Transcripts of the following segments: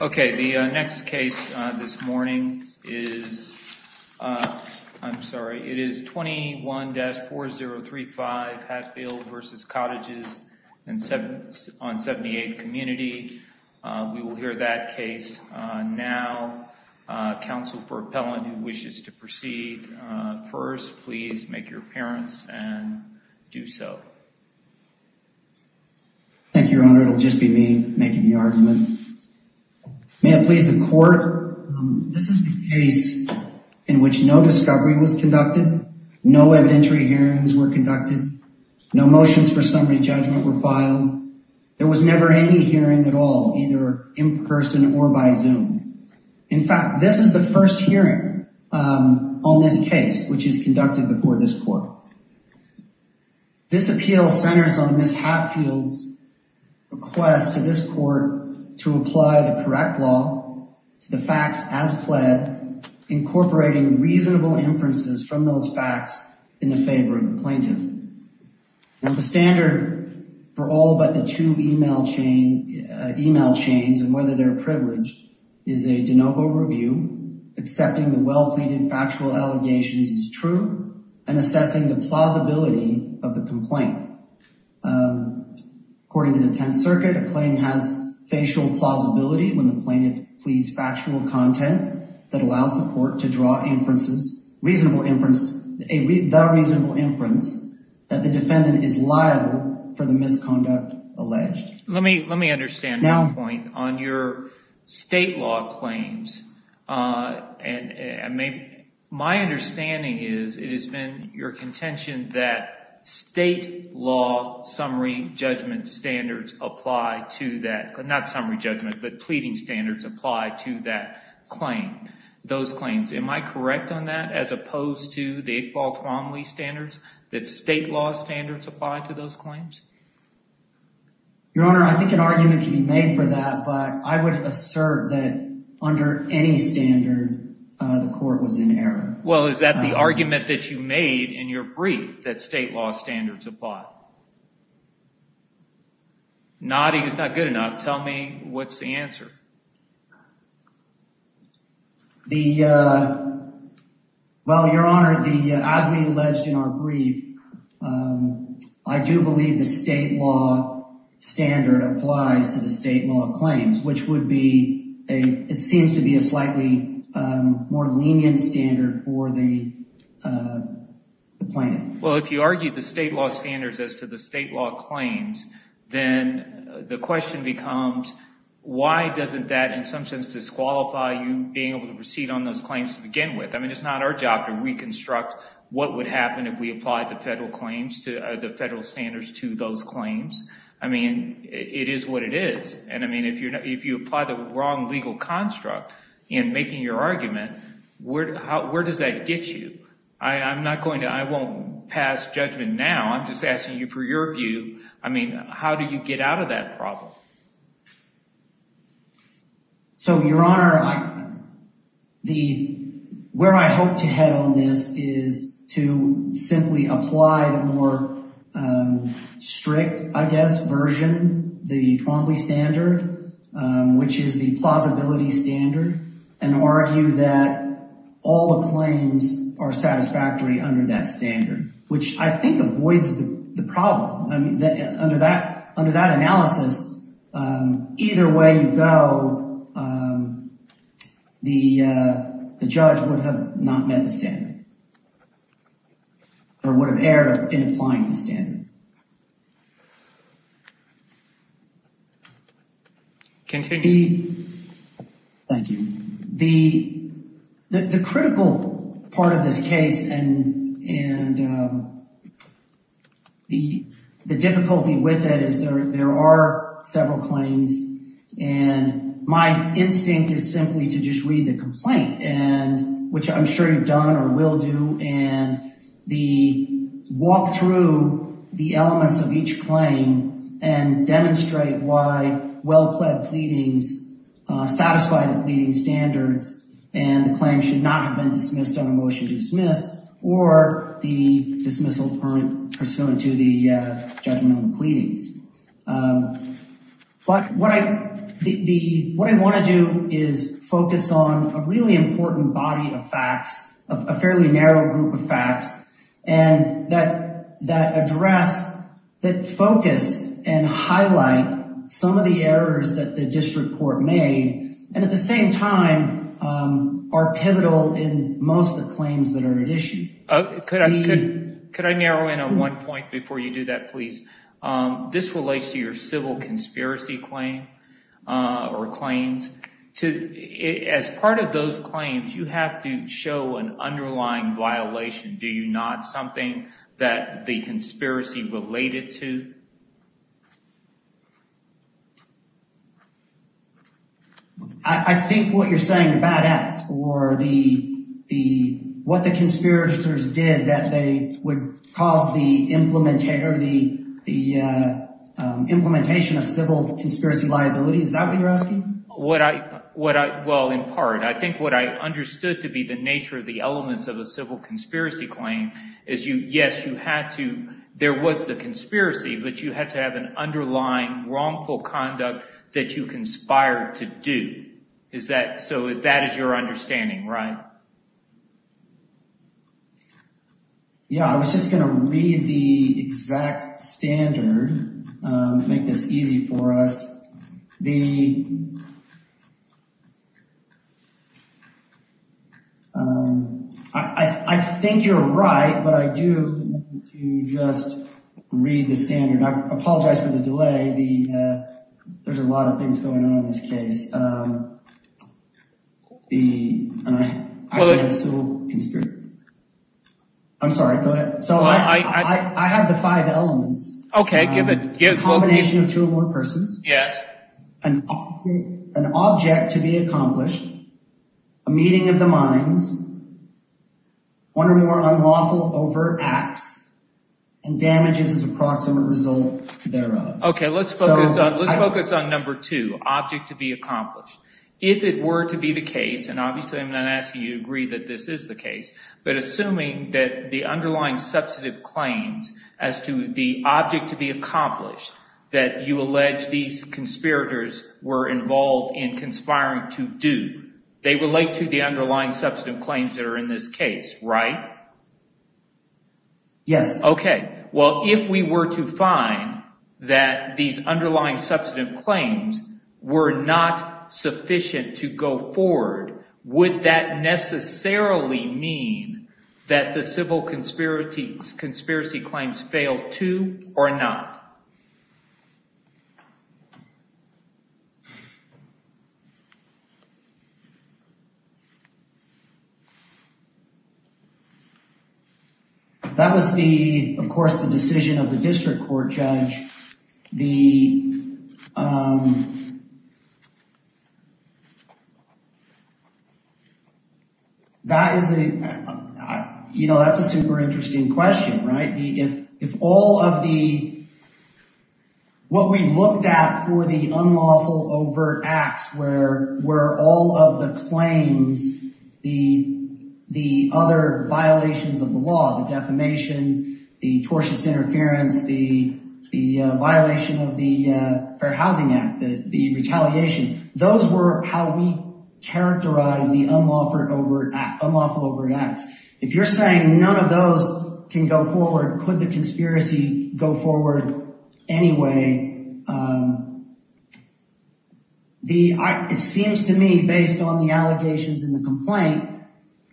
Okay, the next case this morning is, I'm sorry, it is 21-4035 Hatfield v. Cottages on 78th Community. We will hear that case now. Counsel for appellant who wishes to proceed first, please make your appearance and do so. Thank you, your honor, it will just be me making the argument. May it please the court, this is the case in which no discovery was conducted, no evidentiary hearings were conducted, no motions for summary judgment were filed, there was never any hearing at all, either in person or by Zoom. In fact, this is the first hearing on this case, which is conducted before this court. This appeal centers on Ms. Hatfield's request to this court to apply the correct law to the facts as pled, incorporating reasonable inferences from those facts in the favor of the plaintiff. The standard for all but the two email chains and whether they're privileged is a de novo review, accepting the well-pleaded factual allegations as true and assessing the plausibility of the complaint. According to the 10th Circuit, a claim has facial plausibility when the plaintiff pleads factual content that allows the court to draw inferences, reasonable inference, a reasonable inference that the defendant is liable for the misconduct alleged. Let me understand one point. On your state law claims, my understanding is it has been your contention that state law summary judgment standards apply to that, not summary judgment, but pleading standards apply to that claim. Those claims, am I correct on that as opposed to the Baltimore standards, that state law standards apply to those claims? Your Honor, I think an argument can be made for that, but I would assert that under any standard the court was in error. Well, is that the argument that you made in your brief that state law standards apply? Nodding is not good enough. Tell me what's the answer. Well, Your Honor, as we alleged in our brief, I do believe the state law standard applies to the state law claims, which would be, it seems to be a slightly more lenient standard for the plaintiff. Well, if you argue the state law standards as to the state law claims, then the question becomes why doesn't that in some sense disqualify you being able to proceed on those claims to begin with? I mean, it's not our job to reconstruct what would happen if we applied the federal standards to those claims. I mean, it is what it is, and I mean, if you apply the wrong legal construct in making your argument, where does that get you? I won't pass judgment now, I'm just asking you for your view, I mean, how do you get out of that problem? So Your Honor, where I hope to head on this is to simply apply the more strict, I guess, version, the Twombly standard, which is the plausibility standard, and argue that all the claims are satisfactory under that standard, which I think avoids the problem. I mean, under that analysis, either way you go, the judge would have not met the standard, or would have erred in applying the standard. Continue. The critical part of this case, and the difficulty with it is there are several claims, and my instinct is simply to just read the complaint, which I'm sure you've done or will do, and walk through the elements of each claim, and demonstrate why well-pled pleadings satisfy the pleading standards, and the claim should not have been dismissed on a motion to dismiss, or the dismissal pursuant to the judgment on the pleadings. But what I want to do is focus on a really important body of facts, a fairly narrow group of facts, and that address, that focus, and highlight some of the errors that the district court made, and at the same time, are pivotal in most of the claims that are at issue. Could I narrow in on one point before you do that, please? This relates to your civil conspiracy claim, or claims. As part of those claims, you have to show an underlying violation. Do you not? Something that the conspiracy related to? I think what you're saying, the bad act, or what the conspirators did that they would cause the implementation of civil conspiracy liability, is that what you're asking? Well, in part. I think what I understood to be the nature of the elements of a civil conspiracy claim is yes, you had to, there was the conspiracy, but you had to have an underlying wrongful conduct that you conspired to do. So that is your understanding, right? Yeah. I was just going to read the exact standard to make this easy for us. The... I think you're right, but I do want you to just read the standard. I apologize for the delay. There's a lot of things going on in this case. I'm sorry, go ahead. So I have the five elements. Okay, give it. A combination of two or more persons. Yes. An object to be accomplished, a meeting of the minds, one or more unlawful overt acts, and damages as a proximate result thereof. Okay, let's focus on number two, object to be accomplished. If it were to be the case, and obviously I'm not asking you to agree that this is the case, but assuming that the underlying substantive claims as to the object to be accomplished, that you allege these conspirators were involved in conspiring to do, they relate to the underlying substantive claims that are in this case, right? Yes. Okay, well if we were to find that these underlying substantive claims were not sufficient to go forward, would that necessarily mean that the civil conspiracy claims failed too or not? That was the, of course, the decision of the district court judge. That is a, you know, that's a super interesting question, right? If all of the, what we looked at for the unlawful overt acts where all of the claims, the other violations of the law, the defamation, the tortious interference, the violation of the Fair Housing Act, the retaliation, those were how we characterized the unlawful overt acts. If you're saying none of those can go forward, could the conspiracy go forward anyway? It seems to me based on the allegations in the complaint,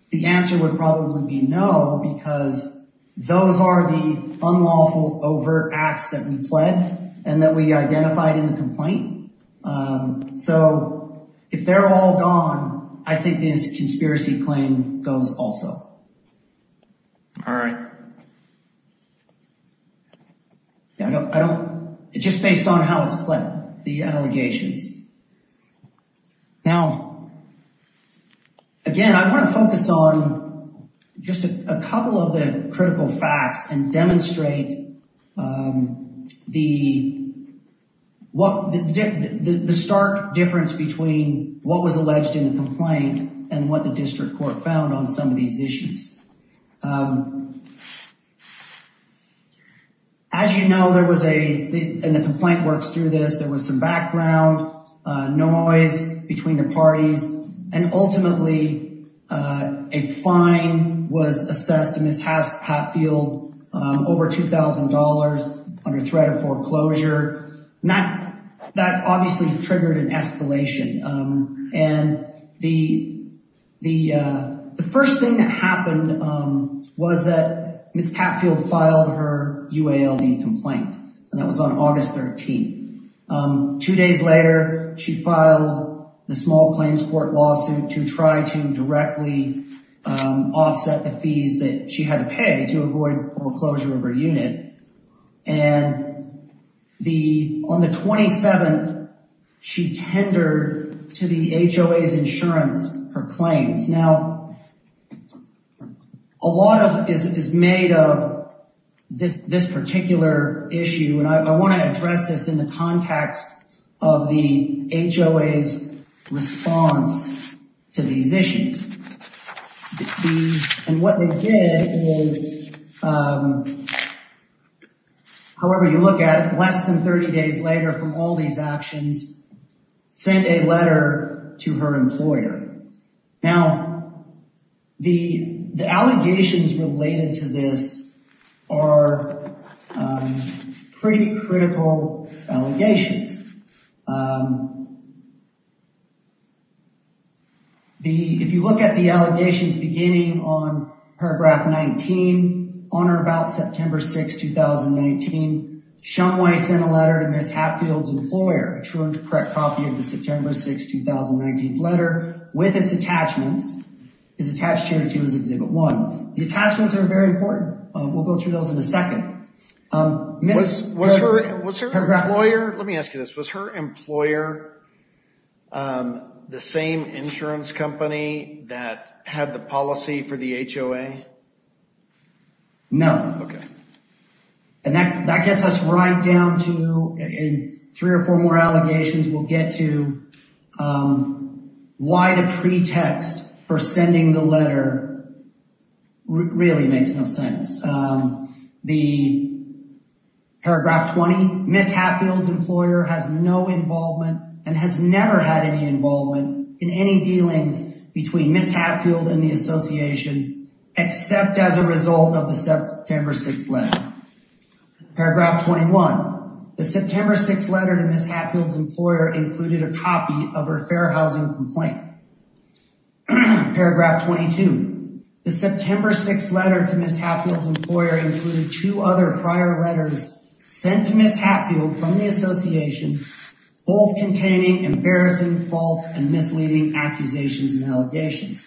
the answer would probably be no because those are the unlawful overt acts that we pled So if they're all gone, I think this conspiracy claim goes also. All right. I don't, it's just based on how it's pled, the allegations. Now, again, I want to focus on just a couple of the critical facts and demonstrate the stark difference between what was alleged in the complaint and what the district court found on some of these issues. As you know, there was a, and the complaint works through this, there was some background noise between the parties and ultimately a fine was assessed to Ms. Hatfield over $2,000 under threat of foreclosure. That obviously triggered an escalation. And the first thing that happened was that Ms. Hatfield filed her UALD complaint and that was on August 13th. Two days later, she filed the small claims court lawsuit to try to directly offset the fees that she had to pay to avoid foreclosure of her unit. And on the 27th, she tendered to the HOA's insurance her claims. Now, a lot of it is made of this particular issue. And I want to address this in the context of the HOA's response to these issues. And what they did is, however you look at it, less than 30 days later from all these actions, sent a letter to her employer. Now, the allegations related to this are pretty critical allegations. If you look at the allegations beginning on paragraph 19, on or about September 6th, 2019, Shumway sent a letter to Ms. Hatfield's employer, a true and correct copy of the September 6th, 2019 letter, with its attachments. It's attached here too, as Exhibit 1. The attachments are very important. We'll go through those in a second. Was her employer, let me ask you this, was her employer the same insurance company that had the policy for the HOA? No. Okay. And that gets us right down to, in three or four more allegations, we'll get to why the pretext for sending the letter really makes no sense. The paragraph 20, Ms. Hatfield's employer has no involvement and has never had any involvement in any dealings between Ms. Hatfield and the association except as a result of the September 6th letter. Paragraph 21, the September 6th letter to Ms. Hatfield's employer included a copy of her fair housing complaint. Paragraph 22, the September 6th letter to Ms. Hatfield's employer included two other prior letters sent to Ms. Hatfield from the association both containing embarrassing faults and misleading accusations and allegations.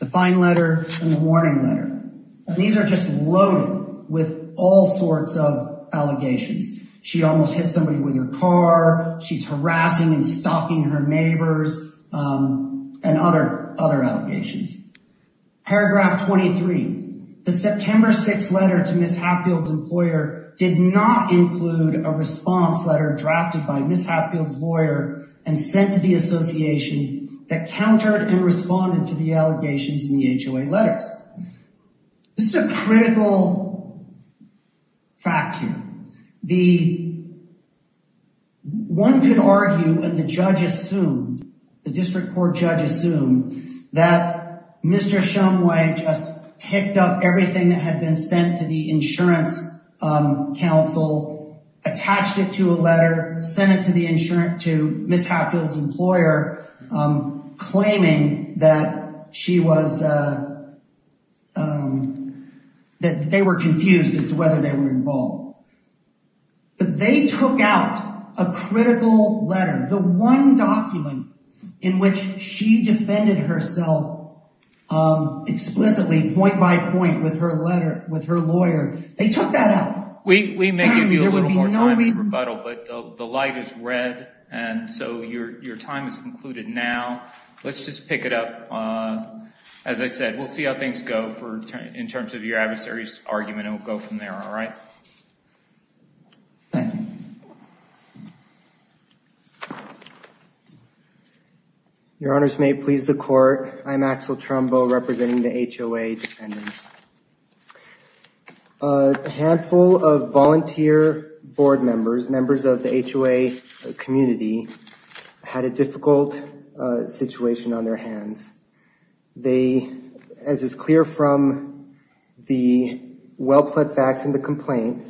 The fine letter and the warning letter. These are just loaded with all sorts of allegations. She almost hit somebody with her car. She's harassing and stalking her neighbors and other allegations. Paragraph 23, the September 6th letter to Ms. Hatfield's employer did not include a response letter drafted by Ms. Hatfield's lawyer and sent to the association that countered and responded to the allegations in the HOA letters. This is a critical fact here. One could argue and the judge assumed, the district court judge assumed that Mr. Shumway just picked up everything that had been sent to the insurance counsel, attached it to a letter, sent it to the insurance, to Ms. Hatfield's employer claiming that she was, that they were confused as to whether they were involved. But they took out a critical letter, the one document in which she defended herself explicitly point by point with her lawyer. They took that out. We may give you a little more time in rebuttal, but the light is red and so your time is concluded now. Let's just pick it up. As I said, we'll see how things go in terms of your adversary's argument and we'll go from there, all right? Your honors may please the court. I'm Axel Trumbo representing the HOA defendants. A handful of volunteer board members, members of the HOA community had a difficult situation on their hands. They, as is clear from the well-plead facts in the complaint,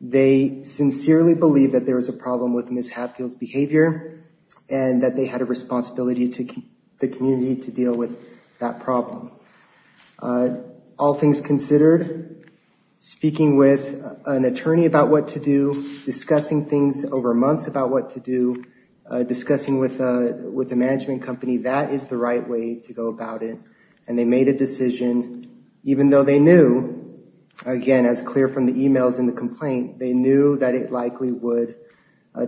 they sincerely believe that there was a problem with Ms. Hatfield's behavior and that they had a responsibility to the community to deal with that problem. All things considered, speaking with an attorney about what to do, discussing things over months about what to do, discussing with the management company, that is the right way to go about it. And they made a decision, even though they knew, again as clear from the emails in the complaint, they knew that it likely would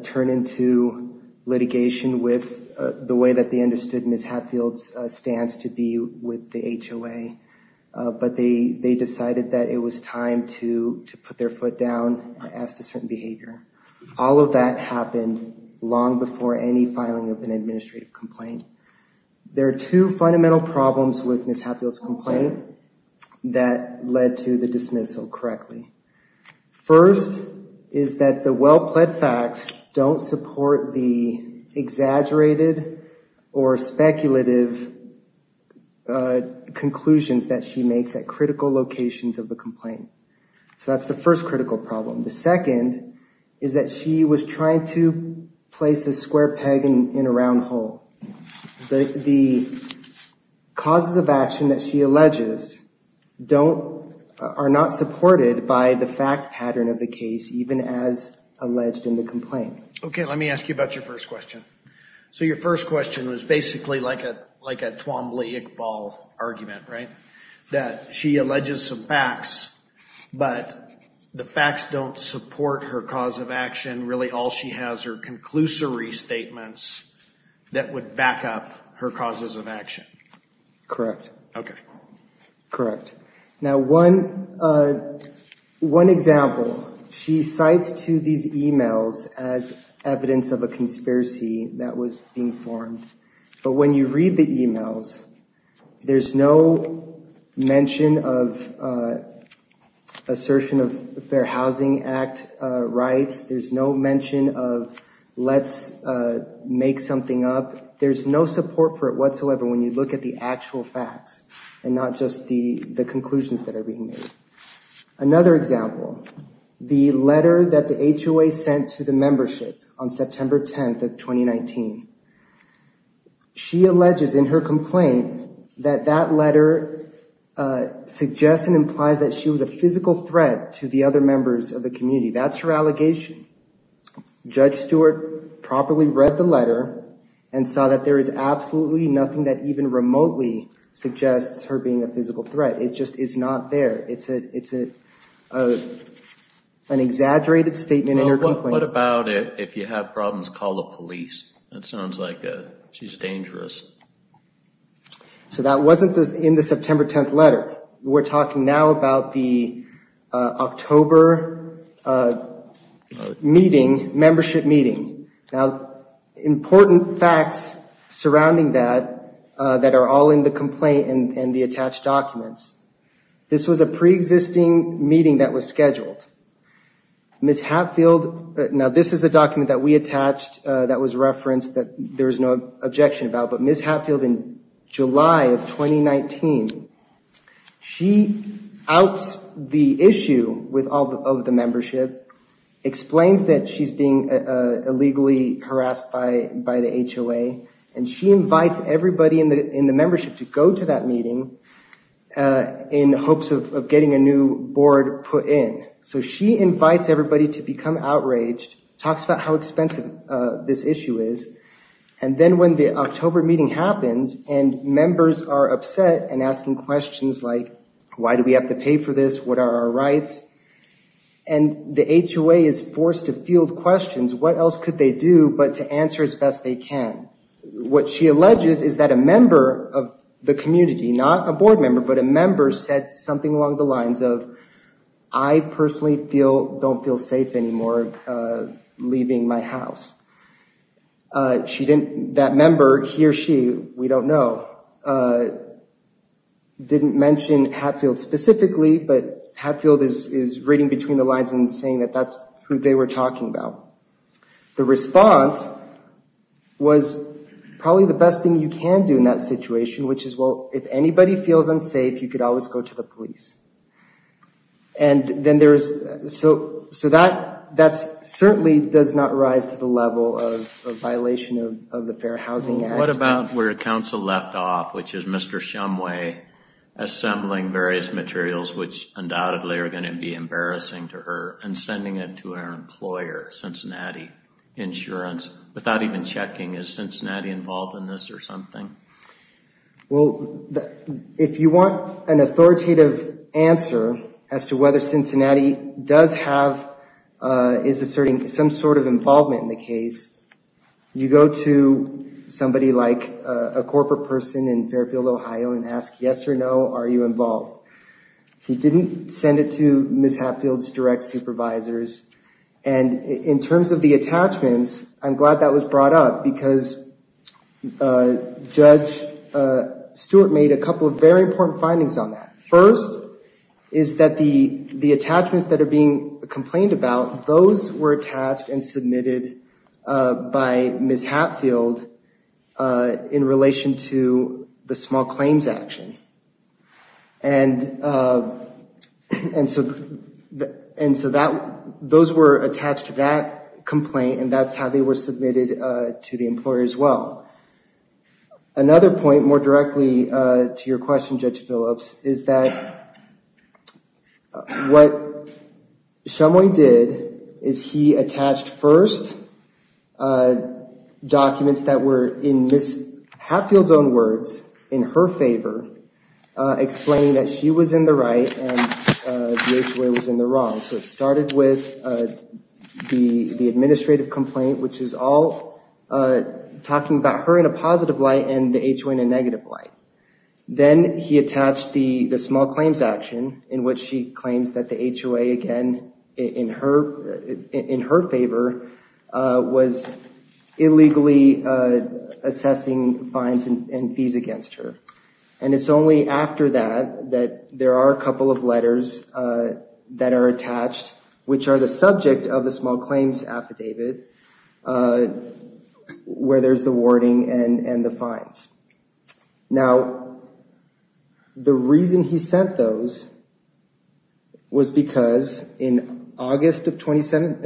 turn into litigation with the way that they understood Ms. Hatfield's stance to be with the HOA. But they decided that it was time to put their foot down and ask a certain behavior. All of that happened long before any filing of an administrative complaint. There are two fundamental problems with Ms. Hatfield's complaint that led to the dismissal correctly. First is that the well-plead facts don't support the exaggerated or speculative conclusions that she makes at critical locations of the complaint. So that's the first critical problem. The second is that she was trying to place a square peg in a round hole. The causes of action that she alleges are not supported by the fact pattern of the case, even as alleged in the complaint. Okay, let me ask you about your first question. So your first question was basically like a Twombly-Iqbal argument, right? That she alleges some facts, but the facts don't support her cause of action. Really all she has are conclusory statements that would back up her causes of action. Correct. Okay. Correct. Now, one example. She cites to these emails as evidence of a conspiracy that was being formed. But when you read the emails, there's no mention of assertion of Fair Housing Act rights. There's no mention of let's make something up. There's no support for it whatsoever when you look at the actual facts and not just the conclusions that are being made. Another example. The letter that the HOA sent to the membership on September 10th of 2019. She alleges in her complaint that that letter suggests and implies that she was a physical threat to the other members of the community. That's her allegation. Judge Stewart properly read the letter and saw that there is absolutely nothing that even remotely suggests her being a physical threat. It just is not there. It's an exaggerated statement in her complaint. What about if you have problems, call the police? That sounds like she's dangerous. So that wasn't in the September 10th letter. We're talking now about the October membership meeting. Now, important facts surrounding that that are all in the complaint and the attached documents. This was a pre-existing meeting that was scheduled. Ms. Hatfield, now this is a document that we attached that was referenced that there is no objection about, but Ms. Hatfield in July of 2019, she outs the issue of the membership, explains that she's being illegally harassed by the HOA, and she invites everybody in the membership to go to that meeting in hopes of getting a new board put in. So she invites everybody to become outraged, talks about how expensive this issue is, and then when the October meeting happens and members are upset and asking questions like, why do we have to pay for this? What are our rights? And the HOA is forced to field questions. What else could they do but to answer as best they can? What she alleges is that a member of the community, not a board member, but a member, said something along the lines of, I personally don't feel safe anymore leaving my house. That member, he or she, we don't know, didn't mention Hatfield specifically, but Hatfield is reading between the lines and saying that that's who they were talking about. The response was, probably the best thing you can do in that situation, which is, well, if anybody feels unsafe, you could always go to the police. So that certainly does not rise to the level of a violation of the Fair Housing Act. What about where counsel left off, which is Mr. Shumway assembling various materials, which undoubtedly are going to be embarrassing to her, and sending it to her employer, Cincinnati Insurance, without even checking, is Cincinnati involved in this or something? Well, if you want an authoritative answer as to whether Cincinnati does have, is asserting some sort of involvement in the case, you go to somebody like a corporate person in Fairfield, Ohio, and ask, yes or no, are you involved? He didn't send it to Ms. Hatfield's direct supervisors. And in terms of the attachments, I'm glad that was brought up, because Judge Stewart made a couple of very important findings on that. First is that the attachments that are being complained about, those were attached and submitted by Ms. Hatfield in relation to the small claims action. And so those were attached to that complaint, and that's how they were submitted to the employer as well. Another point, more directly to your question, Judge Phillips, is that what Shumway did, is he attached first documents that were in Ms. Hatfield's own words, in her favor, explaining that she was in the right and the HOA was in the wrong. So it started with the administrative complaint, which is all talking about her in a positive light and the HOA in a negative light. Then he attached the small claims action, in which she claims that the HOA, again, in her favor, was illegally assessing fines and fees against her. And it's only after that, that there are a couple of letters that are attached, which are the subject of the small claims affidavit, where there's the wording and the fines. Now, the reason he sent those was because in August 27th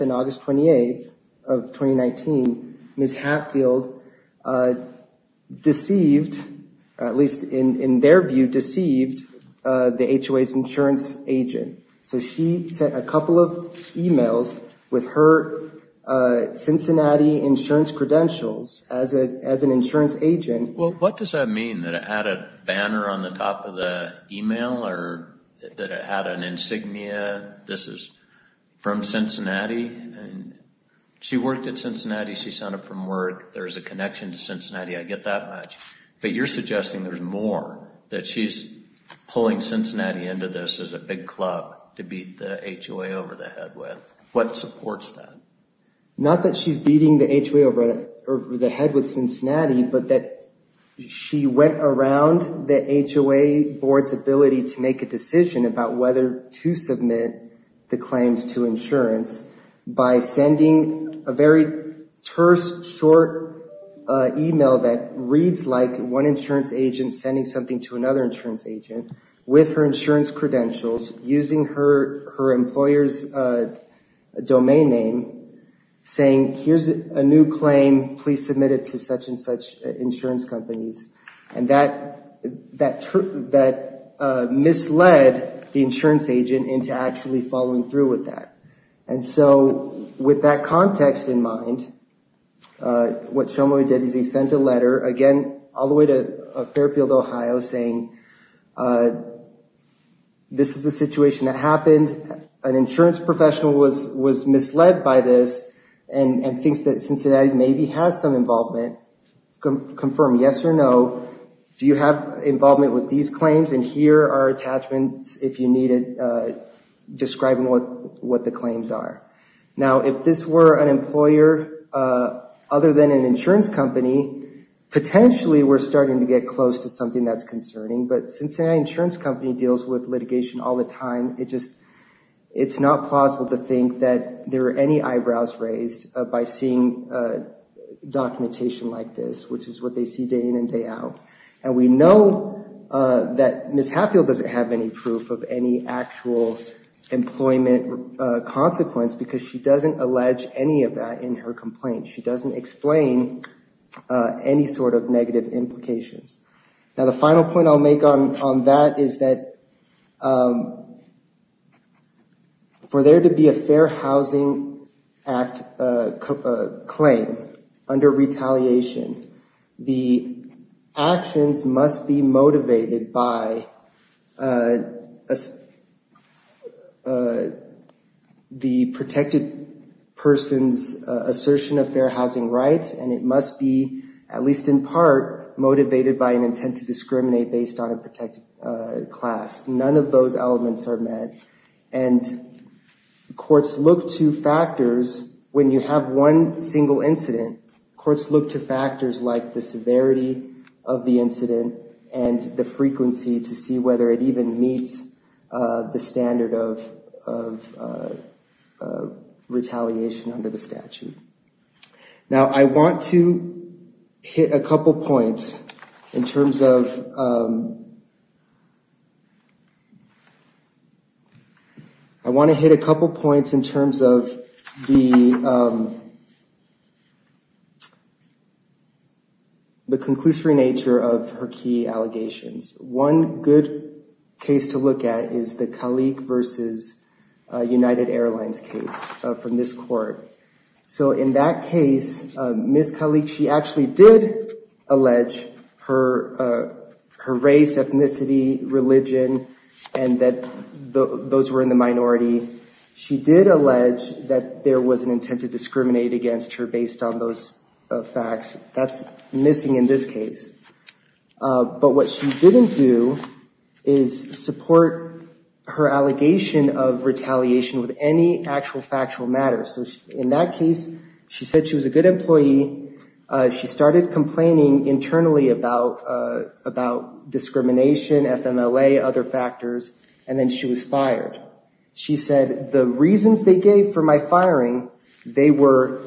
and August 28th of 2019, Ms. Hatfield deceived, at least in their view, deceived the HOA's insurance agent. So she sent a couple of emails with her Cincinnati insurance credentials as an insurance agent. Well, what does that mean, that it had a banner on the top of the email or that it had an insignia, this is from Cincinnati? She worked at Cincinnati. She sent it from where there's a connection to Cincinnati. I get that much. But you're suggesting there's more, that she's pulling Cincinnati into this as a big club to beat the HOA over the head with. What supports that? Not that she's beating the HOA over the head with Cincinnati, but that she went around the HOA board's ability to make a decision about whether to submit the claims to insurance by sending a very terse, short email that reads like one insurance agent sending something to another insurance agent with her insurance credentials, using her employer's domain name, saying, here's a new claim, please submit it to such and such insurance companies. And that misled the insurance agent into actually following through with that. And so with that context in mind, what Shomoy did is he sent a letter, again, all the way to Fairfield, Ohio, saying this is the situation that happened, an insurance professional was misled by this and thinks that Cincinnati maybe has some involvement. Confirm yes or no. Do you have involvement with these claims? And here are attachments, if you need it, describing what the claims are. Now, if this were an employer other than an insurance company, potentially we're starting to get close to something that's concerning. But Cincinnati Insurance Company deals with litigation all the time. It's not plausible to think that there were any eyebrows raised by seeing documentation like this, which is what they see day in and day out. And we know that Ms. Hatfield doesn't have any proof of any actual employment consequence because she doesn't allege any of that in her complaint. She doesn't explain any sort of negative implications. Now, the final point I'll make on that is that for there to be a Fair Housing Act claim under retaliation, the actions must be motivated by the protected person's assertion of their housing rights. And it must be, at least in part, motivated by an intent to discriminate based on a protected class. None of those elements are met. And courts look to factors when you have one single incident, courts look to factors like the severity of the incident and the frequency to see whether it even meets the standard of retaliation under the statute. Now, I want to hit a couple points in terms of... I want to hit a couple points in terms of the... the conclusory nature of her key allegations. One good case to look at is the Kalik versus United Airlines case from this court. So in that case, Ms. Kalik, she actually did allege her race, ethnicity, religion, and that those were in the minority. She did allege that there was an intent to discriminate against her based on those facts. That's missing in this case. But what she didn't do is support her allegation of retaliation with any actual factual matter. So in that case, she said she was a good employee. She started complaining internally about discrimination, FMLA, other factors, and then she was fired. She said the reasons they gave for my firing, they were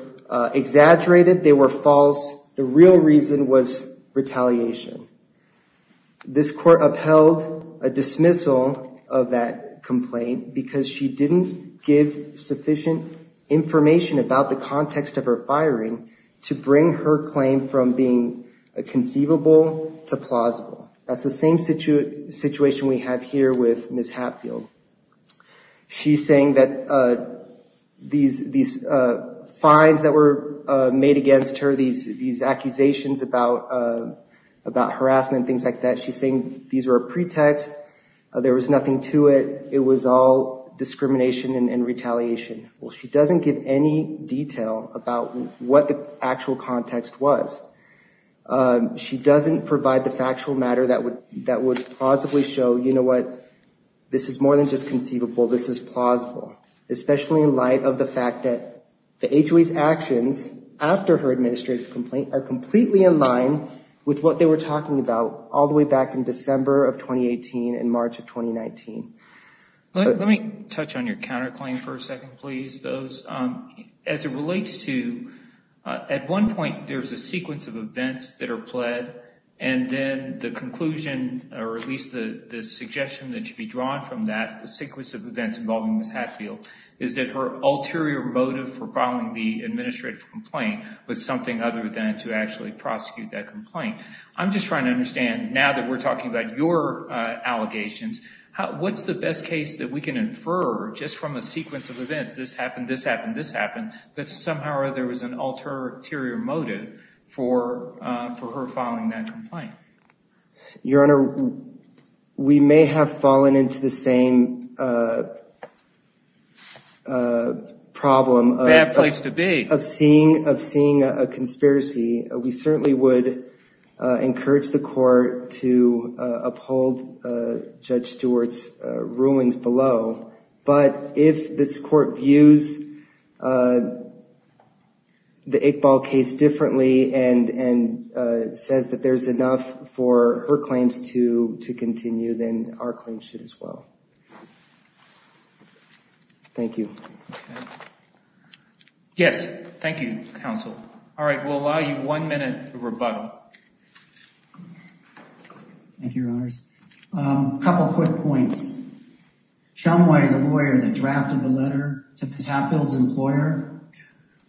exaggerated, they were false. The real reason was retaliation. This court upheld a dismissal of that complaint because she didn't give sufficient information about the context of her firing to bring her claim from being conceivable to plausible. That's the same situation we have here with Ms. Hatfield. She's saying that these fines that were made against her, these accusations about harassment, things like that, she's saying these were a pretext, there was nothing to it, it was all discrimination and retaliation. Well, she doesn't give any detail about what the actual context was. She doesn't provide the factual matter that would plausibly show, you know what, this is more than just conceivable, this is plausible, especially in light of the fact that the HOA's actions after her administrative complaint are completely in line with what they were talking about all the way back in December of 2018 and March of 2019. Let me touch on your counterclaim for a second, please. As it relates to, at one point, there's a sequence of events that are pled, and then the conclusion, or at least the suggestion that should be drawn from that, the sequence of events involving Ms. Hatfield, is that her ulterior motive for filing the administrative complaint was something other than to actually prosecute that complaint. I'm just trying to understand, now that we're talking about your allegations, what's the best case that we can infer just from a sequence of events, this happened, this happened, this happened, that somehow or other there was an ulterior motive for her filing that complaint? Your Honor, we may have fallen into the same problem of seeing a conspiracy. We certainly would encourage the court to uphold Judge Stewart's rulings below, but if this court views the Iqbal case differently and says that there's enough for her claims to continue, then our claims should as well. Thank you. Yes, thank you, Counsel. All right, we'll allow you one minute to rebuttal. Thank you, Your Honors. Chumway, the lawyer that drafted the letter to Ms. Hatfield's employer,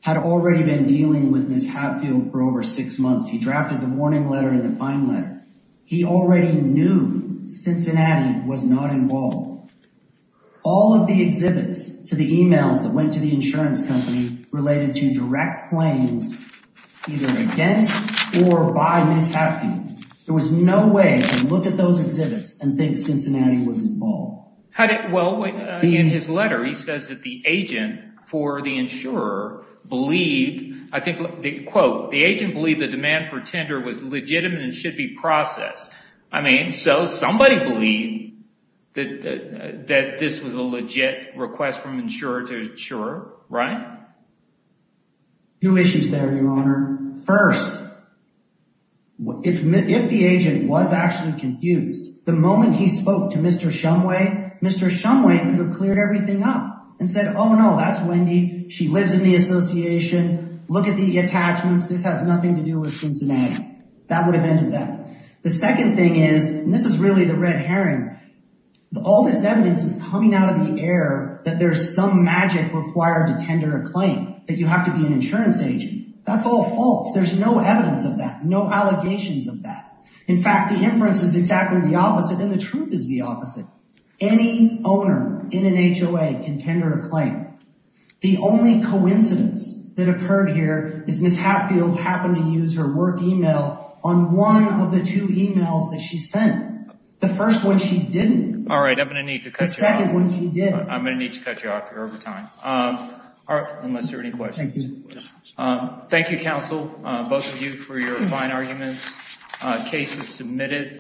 had already been dealing with Ms. Hatfield for over six months. He drafted the warning letter and the fine letter. He already knew Cincinnati was not involved. All of the exhibits to the emails that went to the insurance company related to direct claims either against or by Ms. Hatfield. There was no way to look at those exhibits and think Cincinnati was involved. How did, well, in his letter, he says that the agent for the insurer believed, I think, quote, the agent believed the demand for tender was legitimate and should be processed. I mean, so somebody believed that this was a legit request from insurer to insurer, right? Two issues there, Your Honor. First, if the agent was actually confused, the moment he spoke to Mr. Chumway, Mr. Chumway could have cleared everything up and said, oh no, that's Wendy. She lives in the association. Look at the attachments. This has nothing to do with Cincinnati. That would have ended that. The second thing is, and this is really the red herring, all this evidence is coming out of the air that there's some magic required to tender a claim, that you have to be an insurance agent. That's all false. There's no evidence of that, no allegations of that. In fact, the inference is exactly the opposite and the truth is the opposite. Any owner in an HOA can tender a claim. The only coincidence that occurred here is Ms. Hatfield happened to use her work email on one of the two emails that she sent. The first one she didn't. All right, I'm going to need to cut you off. The second one she did. I'm going to need to cut you off here over time. All right, unless there are any questions. Thank you, counsel, both of you for your fine arguments. Case is submitted.